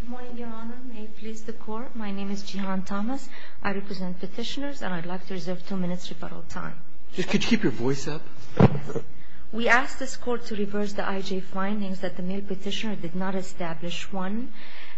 Good morning, Your Honor. May it please the Court, my name is Jihan Thomas. I represent petitioners and I'd like to reserve two minutes rebuttal time. Could you keep your voice up? We ask this Court to reverse the IJ findings that the male petitioner did not establish. One,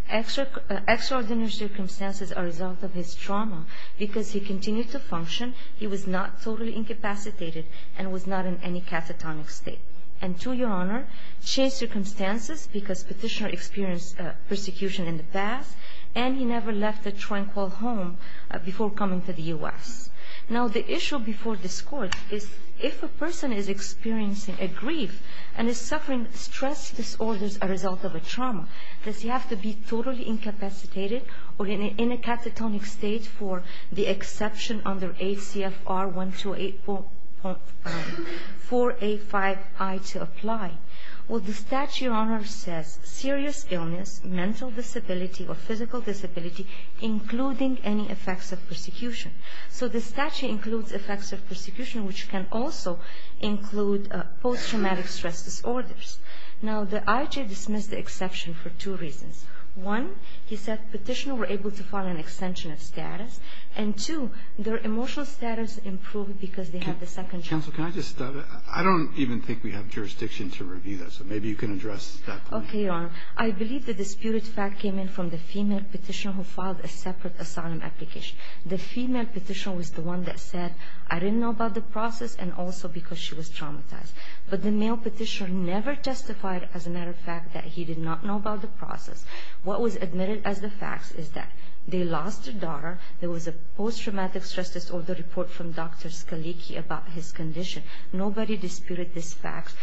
extraordinary circumstances are a result of his trauma. Because he continued to function, he was not totally incapacitated and was not in any catatonic state. And two, Your Honor, changed circumstances because petitioner experienced persecution in the past and he never left a tranquil home before coming to the U.S. Now the issue before this Court is if a person is experiencing a grief and is suffering stress disorders as a result of a trauma, does he have to be totally incapacitated or in a catatonic state for the exception under ACFR 128.485I to apply? Well, the statute, Your Honor, says serious illness, mental disability or physical disability, including any effects of persecution. So the statute includes effects of persecution, which can also include post-traumatic stress disorders. Now the IJ dismissed the exception for two reasons. One, he said petitioner were able to file an extension of status. And two, their emotional status improved because they had the second chance. Counsel, can I just, I don't even think we have jurisdiction to review this. Maybe you can address that point. Okay, Your Honor. I believe the disputed fact came in from the female petitioner who filed a separate asylum application. The female petitioner was the one that said, I didn't know about the process and also because she was traumatized. But the male petitioner never testified, as a matter of fact, that he did not know about the process. What was admitted as the facts is that they lost their daughter. There was a post-traumatic stress disorder report from Dr. Scalicchi about his condition. Nobody disputed this fact.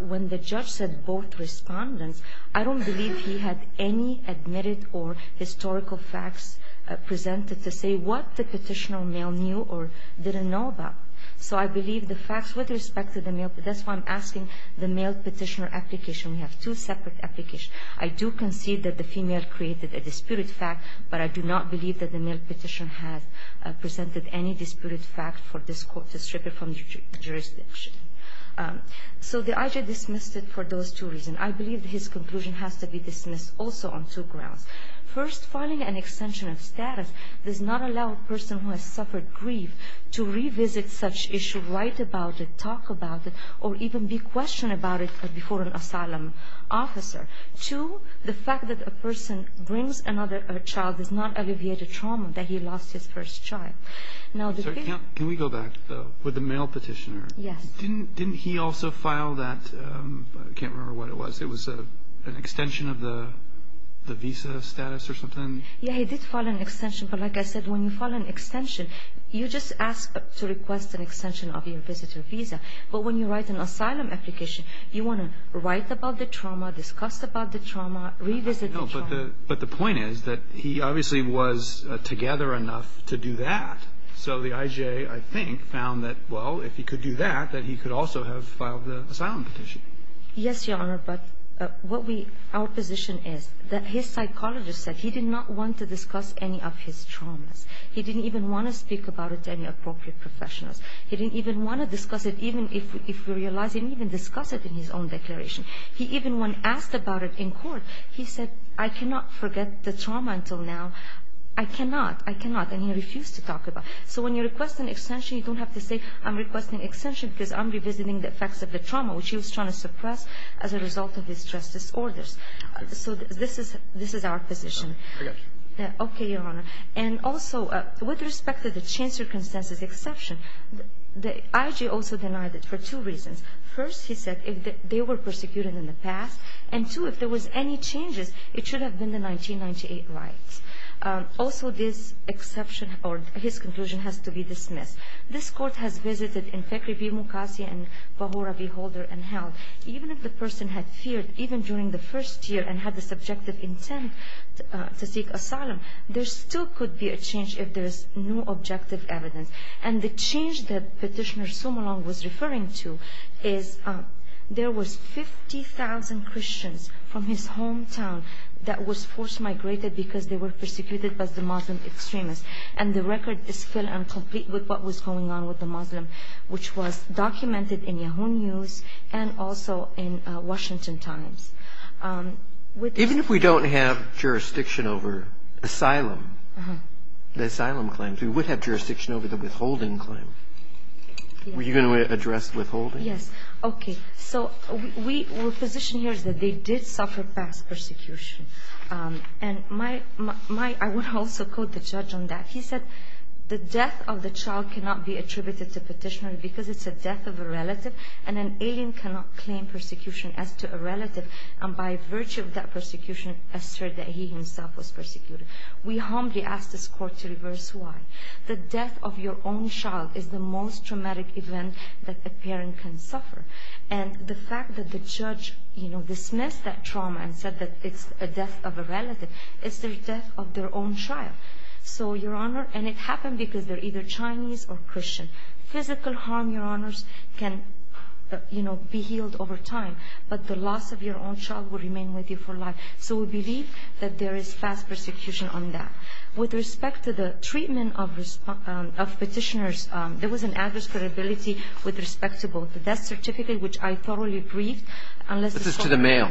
When the judge said both respondents, I don't believe he had any admitted or historical facts presented to say what the petitioner male knew or didn't know about. So I believe the facts with respect to the male, that's why I'm asking the male petitioner application. We have two separate applications. I do concede that the female created a disputed fact, but I do not believe that the male petitioner has presented any disputed fact for this Court to strip it from jurisdiction. So the IG dismissed it for those two reasons. I believe his conclusion has to be dismissed also on two grounds. First, filing an extension of status does not allow a person who has suffered grief to revisit such issue, write about it, talk about it, or even be questioned about it before an asylum officer. Two, the fact that a person brings another child does not alleviate the trauma that he lost his first child. Can we go back, though, with the male petitioner? Yes. Didn't he also file that, I can't remember what it was, it was an extension of the visa status or something? Yeah, he did file an extension, but like I said, when you file an extension, you just ask to request an extension of your visitor visa. But when you write an asylum application, you want to write about the trauma, discuss about the trauma, revisit the trauma. But the point is that he obviously was together enough to do that. So the IG, I think, found that, well, if he could do that, that he could also have filed the asylum petition. Yes, Your Honor, but what we – our position is that his psychologist said he did not want to discuss any of his traumas. He didn't even want to speak about it to any appropriate professionals. He didn't even want to discuss it, even if we realize he didn't even discuss it in his own declaration. He even, when asked about it in court, he said, I cannot forget the trauma until now. I cannot. I cannot. And he refused to talk about it. So when you request an extension, you don't have to say, I'm requesting an extension because I'm revisiting the effects of the trauma, which he was trying to suppress as a result of his stress disorders. So this is – this is our position. I got you. Okay, Your Honor. And also, with respect to the chain circumstances exception, the IG also denied it for two reasons. First, he said, if they were persecuted in the past, and two, if there was any changes, it should have been the 1998 rights. Also, this exception or his conclusion has to be dismissed. This court has visited in Fekri B. Mukassir and Bahura B. Holder and held, even if the person had feared, even during the first year and had the subjective intent to seek asylum, there still could be a change if there is no objective evidence. And the change that Petitioner Sumolong was referring to is there was 50,000 Christians from his hometown that was forced migrated because they were persecuted by the Muslim extremists. And the record is still incomplete with what was going on with the Muslim, which was documented in Yahoo News and also in Washington Times. Even if we don't have jurisdiction over asylum, the asylum claims, we would have jurisdiction over the withholding claim. Were you going to address withholding? Yes. Okay. So we're position here is that they did suffer past persecution. And my – I would also quote the judge on that. He said, the death of the child cannot be attributed to Petitioner because it's the death of a relative, and an alien cannot claim persecution as to a relative, and by virtue of that persecution assert that he himself was persecuted. We humbly ask this court to reverse why. The death of your own child is the most traumatic event that a parent can suffer. And the fact that the judge dismissed that trauma and said that it's the death of a relative, it's the death of their own child. So, Your Honor, and it happened because they're either Chinese or Christian. Physical harm, Your Honors, can be healed over time, but the loss of your own child will remain with you for life. So we believe that there is past persecution on that. With respect to the treatment of Petitioners, there was an adverse credibility with respect to both the death certificate, which I thoroughly briefed. This is to the mail.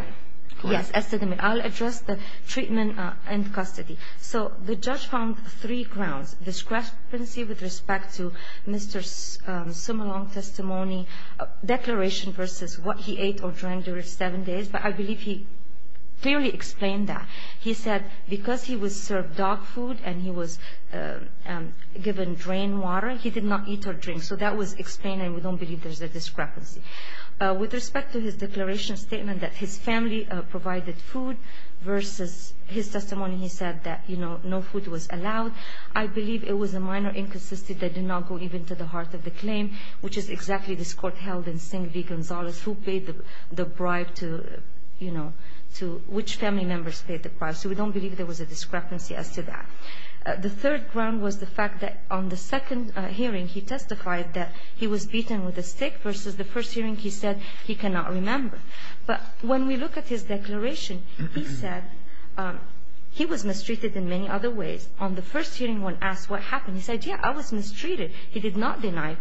Yes, as to the mail. I'll address the treatment in custody. So the judge found three grounds, discrepancy with respect to Mr. Sumolong's testimony, declaration versus what he ate or drank during seven days. But I believe he clearly explained that. He said because he was served dog food and he was given drain water, he did not eat or drink. So that was explained, and we don't believe there's a discrepancy. With respect to his declaration statement that his family provided food versus his testimony, he said that, you know, no food was allowed. I believe it was a minor inconsistency that did not go even to the heart of the claim, which is exactly this court held in St. V. Gonzales who paid the bribe to, you know, to which family members paid the bribe. So we don't believe there was a discrepancy as to that. The third ground was the fact that on the second hearing he testified that he was beaten with a stick versus the first hearing he said he cannot remember. But when we look at his declaration, he said he was mistreated in many other ways. On the first hearing when asked what happened, he said, yeah, I was mistreated. He did not deny.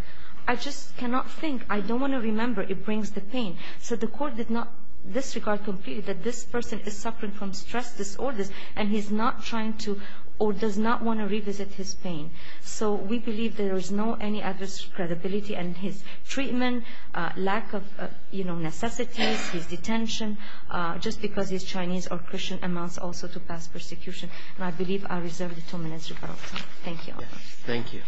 I just cannot think. I don't want to remember. It brings the pain. So the court did not disregard completely that this person is suffering from stress disorders and he's not trying to or does not want to revisit his pain. So we believe there is no any adverse credibility in his treatment, lack of, you know, necessities, his detention, just because he's Chinese or Christian amounts also to past persecution. And I believe I reserve the two minutes, Your Honor. Thank you. Thank you.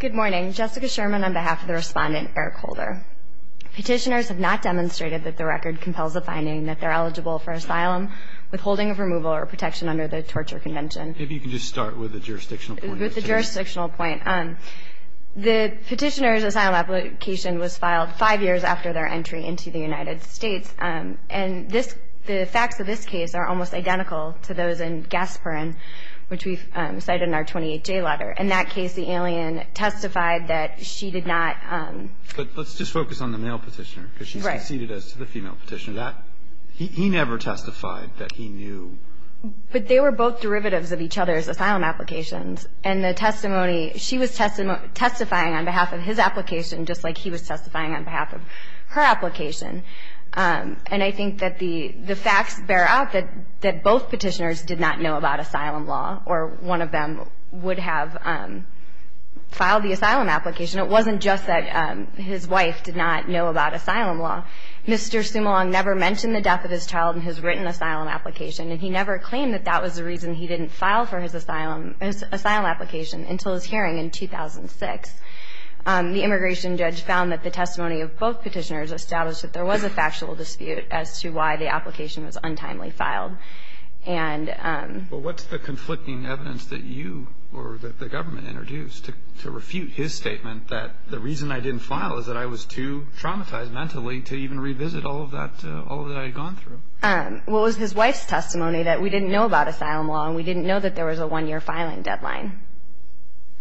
Good morning. Jessica Sherman on behalf of the Respondent, Eric Holder. Petitioners have not demonstrated that the record compels the finding that they're eligible for asylum, withholding of removal, or protection under the Torture Convention. Maybe you can just start with the jurisdictional point. With the jurisdictional point. The petitioner's asylum application was filed five years after their entry into the United States. And the facts of this case are almost identical to those in Gasparin, which we cite in our 28-J letter. In that case, the alien testified that she did not. But let's just focus on the male petitioner because she succeeded as to the female petitioner. He never testified that he knew. But they were both derivatives of each other's asylum applications. And the testimony, she was testifying on behalf of his application just like he was testifying on behalf of her application. And I think that the facts bear out that both petitioners did not know about asylum law or one of them would have filed the asylum application. It wasn't just that his wife did not know about asylum law. Mr. Sumolong never mentioned the death of his child in his written asylum application. And he never claimed that that was the reason he didn't file for his asylum application until his hearing in 2006. The immigration judge found that the testimony of both petitioners established that there was a factual dispute as to why the application was untimely filed. Well, what's the conflicting evidence that you or that the government introduced to refute his statement that the reason I didn't file is that I was too traumatized mentally to even revisit all that I had gone through? Well, it was his wife's testimony that we didn't know about asylum law and we didn't know that there was a one-year filing deadline.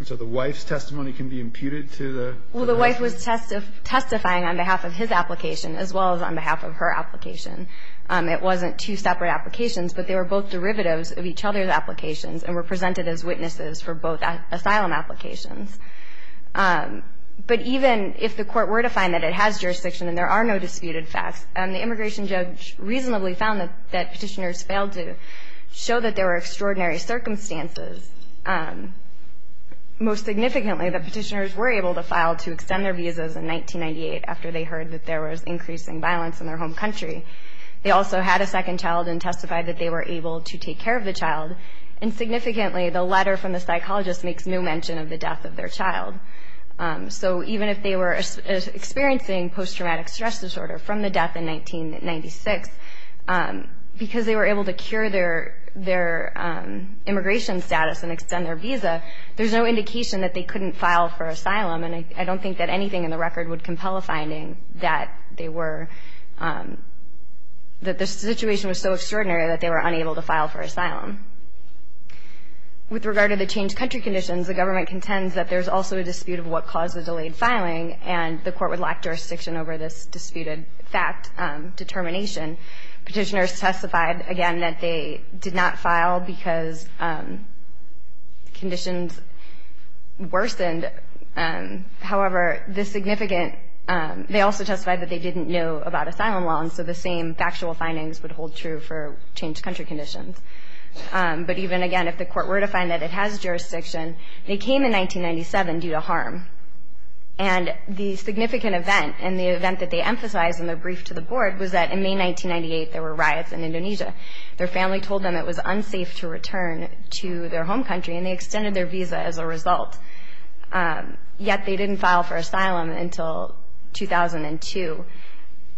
So the wife's testimony can be imputed to the? Well, the wife was testifying on behalf of his application as well as on behalf of her application. It wasn't two separate applications, but they were both derivatives of each other's applications and were presented as witnesses for both asylum applications. But even if the court were to find that it has jurisdiction and there are no disputed facts, the immigration judge reasonably found that petitioners failed to show that there were extraordinary circumstances. Most significantly, the petitioners were able to file to extend their visas in 1998 after they heard that there was increasing violence in their home country. They also had a second child and testified that they were able to take care of the child. And significantly, the letter from the psychologist makes no mention of the death of their child. So even if they were experiencing post-traumatic stress disorder from the death in 1996, because they were able to cure their immigration status and extend their visa, there's no indication that they couldn't file for asylum. And I don't think that anything in the record would compel a finding that they were – that the situation was so extraordinary that they were unable to file for asylum. With regard to the changed country conditions, the government contends that there's also a dispute of what caused the delayed filing, and the court would lack jurisdiction over this disputed fact determination. Petitioners testified, again, that they did not file because conditions worsened. However, the significant – they also testified that they didn't know about asylum loans, so the same factual findings would hold true for changed country conditions. But even, again, if the court were to find that it has jurisdiction, they came in 1997 due to harm. And the significant event, and the event that they emphasized in their brief to the board, was that in May 1998 there were riots in Indonesia. Their family told them it was unsafe to return to their home country, and they extended their visa as a result. Yet they didn't file for asylum until 2002.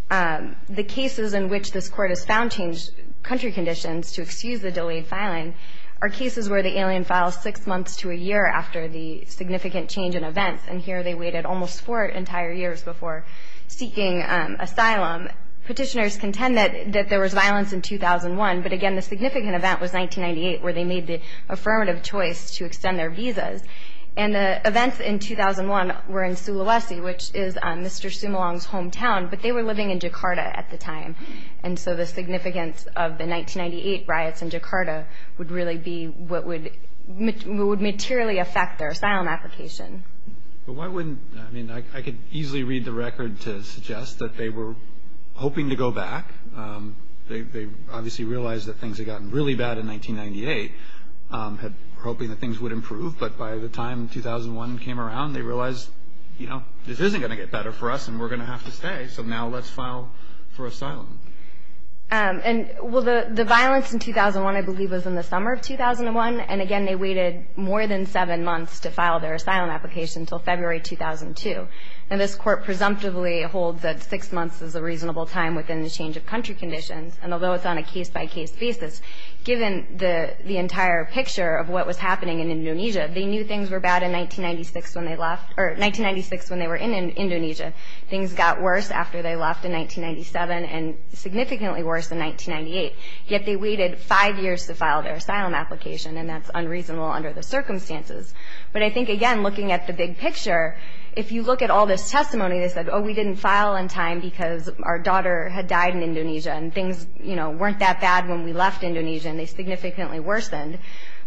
The cases in which this court has found changed country conditions to excuse the delayed filing are cases where the alien files six months to a year after the significant change in events. And here they waited almost four entire years before seeking asylum. Petitioners contend that there was violence in 2001, but again the significant event was 1998 where they made the affirmative choice to extend their visas. And the events in 2001 were in Sulawesi, which is Mr. Sumalong's hometown, but they were living in Jakarta at the time. And so the significance of the 1998 riots in Jakarta would really be what would materially affect their asylum application. But why wouldn't – I mean, I could easily read the record to suggest that they were hoping to go back. They obviously realized that things had gotten really bad in 1998, hoping that things would improve. But by the time 2001 came around, they realized, you know, this isn't going to get better for us, and we're going to have to stay, so now let's file for asylum. And, well, the violence in 2001, I believe, was in the summer of 2001. And, again, they waited more than seven months to file their asylum application until February 2002. And this court presumptively holds that six months is a reasonable time within the change of country conditions. And although it's on a case-by-case basis, given the entire picture of what was happening in Indonesia, they knew things were bad in 1996 when they left – or 1996 when they were in Indonesia. Things got worse after they left in 1997 and significantly worse in 1998. Yet they waited five years to file their asylum application, and that's unreasonable under the circumstances. But I think, again, looking at the big picture, if you look at all this testimony, they said, oh, we didn't file in time because our daughter had died in Indonesia, and things, you know, weren't that bad when we left Indonesia, and they significantly worsened.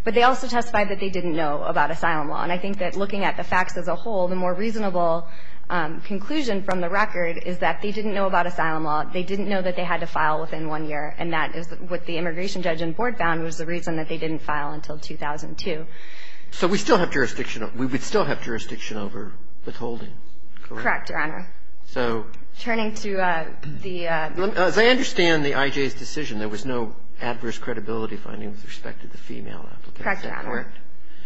But they also testified that they didn't know about asylum law. And I think that looking at the facts as a whole, the more reasonable conclusion from the record is that they didn't know about asylum law. They didn't know that they had to file within one year, and that is what the immigration judge and board found was the reason that they didn't file until 2002. Roberts. So we still have jurisdiction. We would still have jurisdiction over withholding, correct? Correct, Your Honor. So. Turning to the. As I understand the I.J.'s decision, there was no adverse credibility finding with respect to the female applicant. Correct, Your Honor. Is that correct?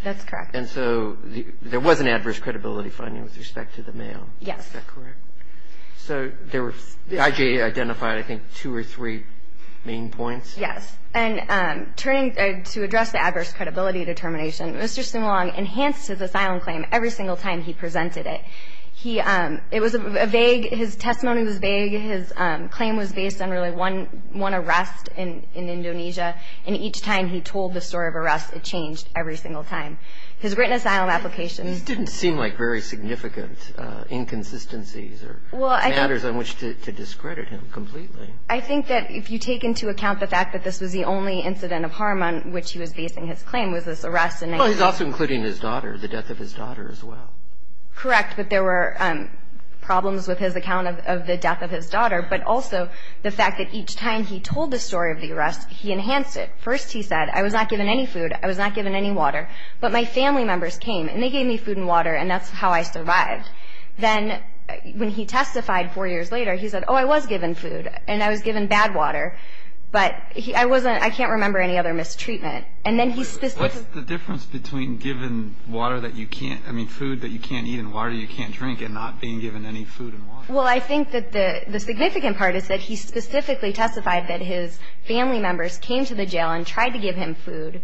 That's correct. And so there was an adverse credibility finding with respect to the male. Is that correct? So there were the I.J. identified, I think, two or three main points. Yes. And turning to address the adverse credibility determination, Mr. Sumulong enhanced his asylum claim every single time he presented it. He, it was a vague, his testimony was vague. His claim was based on really one arrest in Indonesia, and each time he told the story of arrest, it changed every single time. His written asylum application. This didn't seem like very significant inconsistencies or matters on which to discredit him completely. I think that if you take into account the fact that this was the only incident of harm on which he was basing his claim was this arrest. Well, he's also including his daughter, the death of his daughter as well. Correct, but there were problems with his account of the death of his daughter, but also the fact that each time he told the story of the arrest, he enhanced it. First, he said, I was not given any food. I was not given any water. But my family members came, and they gave me food and water, and that's how I survived. Then when he testified four years later, he said, oh, I was given food, and I was given bad water, but I wasn't, I can't remember any other mistreatment. And then he specifically What's the difference between given water that you can't, I mean, food that you can't eat and water you can't drink and not being given any food and water? Well, I think that the significant part is that he specifically testified that his family members came to the jail and tried to give him food,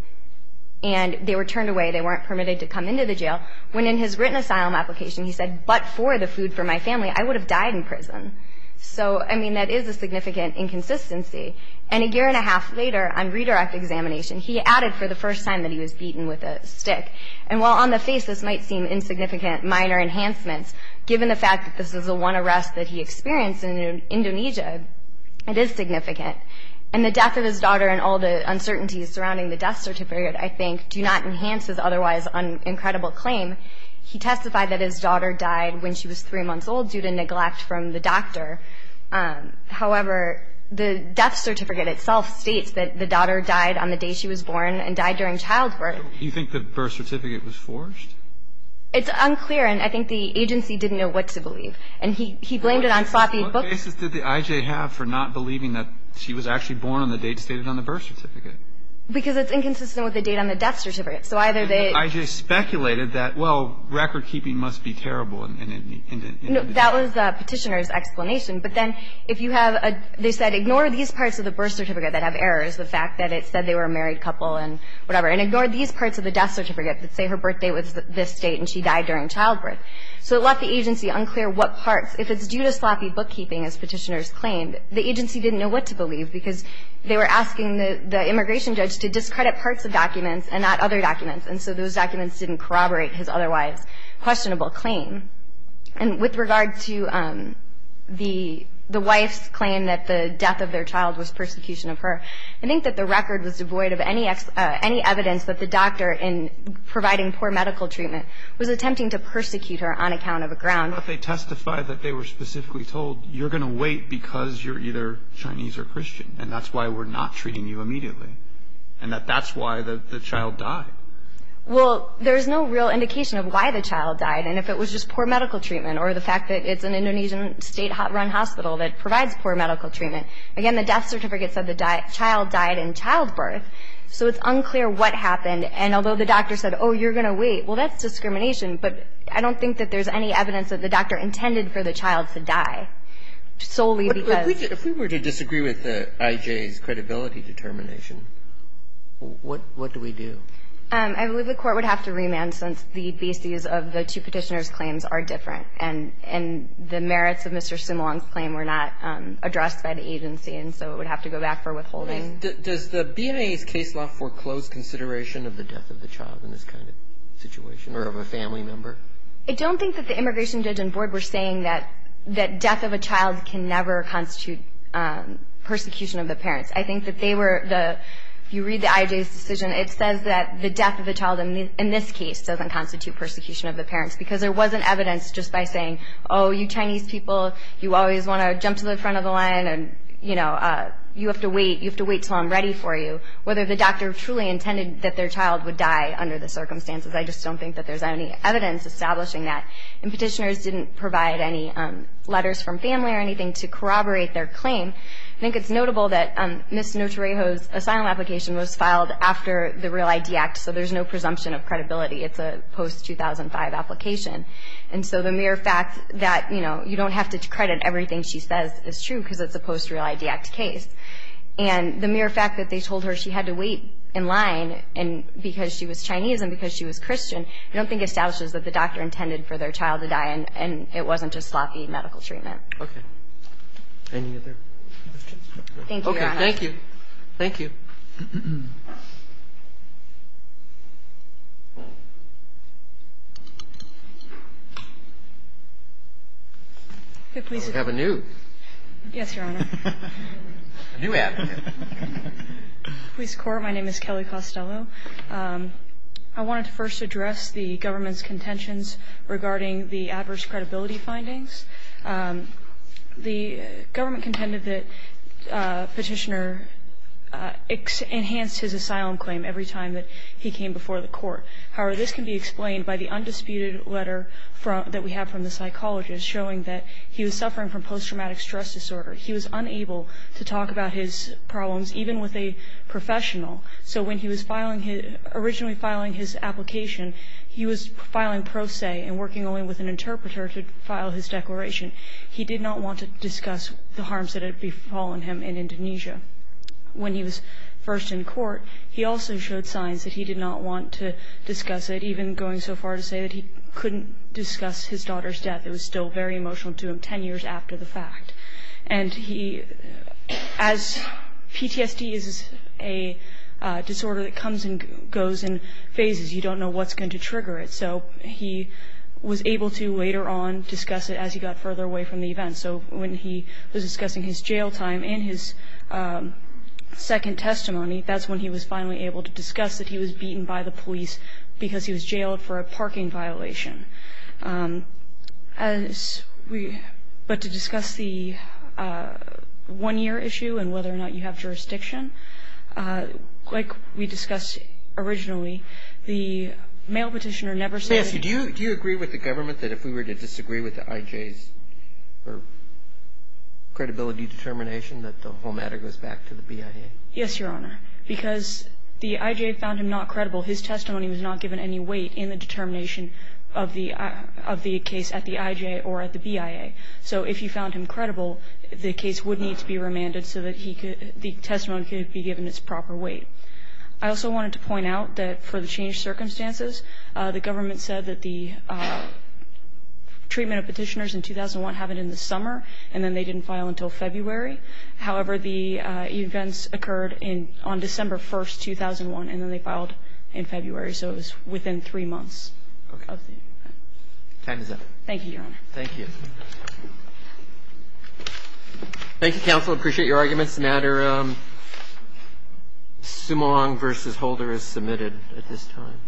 and they were turned away. They weren't permitted to come into the jail. When in his written asylum application, he said, but for the food for my family, I would have died in prison. So, I mean, that is a significant inconsistency. And a year and a half later, on redirect examination, he added for the first time that he was beaten with a stick. And while on the face this might seem insignificant, minor enhancements, given the fact that this is the one arrest that he experienced in Indonesia, it is significant. And the death of his daughter and all the uncertainties surrounding the death certificate, I think, do not enhance his otherwise incredible claim. He testified that his daughter died when she was three months old due to neglect from the doctor. However, the death certificate itself states that the daughter died on the day she was born and died during childbirth. Do you think the birth certificate was forged? It's unclear, and I think the agency didn't know what to believe. And he blamed it on sloppy books. What basis did the I.J. have for not believing that she was actually born on the date stated on the birth certificate? Because it's inconsistent with the date on the death certificate. So either they – But the I.J. speculated that, well, recordkeeping must be terrible in Indonesia. No. That was the Petitioner's explanation. But then if you have a – they said ignore these parts of the birth certificate that have errors, the fact that it said they were a married couple and whatever, and ignore these parts of the death certificate that say her birthday was this date and she died during childbirth. So it left the agency unclear what parts. If it's due to sloppy bookkeeping, as Petitioner's claimed, the agency didn't know what to believe because they were asking the immigration judge to discredit parts of documents and not other documents. And so those documents didn't corroborate his otherwise questionable claim. And with regard to the wife's claim that the death of their child was persecution of her, I think that the record was devoid of any evidence that the doctor in providing poor medical treatment was attempting to persecute her on account of a ground. But they testified that they were specifically told, you're going to wait because you're either Chinese or Christian, and that's why we're not treating you immediately, and that that's why the child died. Well, there's no real indication of why the child died. And if it was just poor medical treatment or the fact that it's an Indonesian state-run hospital that provides poor medical treatment. Again, the death certificate said the child died in childbirth. So it's unclear what happened. And although the doctor said, oh, you're going to wait, well, that's discrimination. But I don't think that there's any evidence that the doctor intended for the child to die solely because. But if we were to disagree with the IJ's credibility determination, what do we do? I believe the Court would have to remand since the bases of the two Petitioner's claims are different. And the merits of Mr. Simulang's claim were not addressed by the agency. And so it would have to go back for withholding. Does the BIA's case law foreclose consideration of the death of the child in this kind of situation or of a family member? I don't think that the immigration judge and board were saying that death of a child can never constitute persecution of the parents. I think that they were the – if you read the IJ's decision, it says that the death of a child in this case doesn't constitute persecution of the parents because there wasn't evidence just by saying, oh, you Chinese people, you always want to jump to the front of the line and, you know, you have to wait, you have to wait until I'm ready for you. Whether the doctor truly intended that their child would die under the circumstances, I just don't think that there's any evidence establishing that. And Petitioners didn't provide any letters from family or anything to corroborate their claim. I think it's notable that Ms. Notarejo's asylum application was filed after the Real ID Act, so there's no presumption of credibility. It's a post-2005 application. And so the mere fact that, you know, you don't have to credit everything she says is true because it's a post-Real ID Act case. And the mere fact that they told her she had to wait in line because she was Chinese and because she was Christian I don't think establishes that the doctor intended for their child to die and it wasn't just sloppy medical treatment. Okay. Any other questions? Thank you, Your Honor. Okay, thank you. Thank you. Do we have a new? Yes, Your Honor. A new advocate. Police Court. My name is Kelly Costello. I wanted to first address the government's contentions regarding the adverse credibility findings. The government contended that Petitioner enhanced his asylum claim every time that he came before the court. However, this can be explained by the undisputed letter that we have from the psychologist showing that he was suffering from post-traumatic stress disorder. He was unable to talk about his problems even with a professional. So when he was originally filing his application, he was filing pro se and working only with an interpreter to file his declaration. He did not want to discuss the harms that had befallen him in Indonesia. When he was first in court, he also showed signs that he did not want to discuss it, even going so far as to say that he couldn't discuss his daughter's death. It was still very emotional to him ten years after the fact. And as PTSD is a disorder that comes and goes in phases, you don't know what's going to trigger it. So he was able to later on discuss it as he got further away from the event. So when he was discussing his jail time and his second testimony, that's when he was finally able to discuss that he was beaten by the police because he was jailed for a parking violation. But to discuss the one-year issue and whether or not you have jurisdiction, like we discussed originally, the mail Petitioner never said. Do you agree with the government that if we were to disagree with the IJ's credibility determination that the whole matter goes back to the BIA? Yes, Your Honor, because the IJ found him not credible. His testimony was not given any weight in the determination of the case at the IJ or at the BIA. So if you found him credible, the case would need to be remanded so that the testimony could be given its proper weight. I also wanted to point out that for the changed circumstances, the government said that the treatment of Petitioners in 2001 happened in the summer and then they didn't file until February. However, the events occurred on December 1st, 2001, and then they filed in February. So it was within three months of the event. Okay. Time is up. Thank you, Your Honor. Thank you. Thank you, Counsel. I appreciate your arguments. The matter Sumong v. Holder is submitted at this time.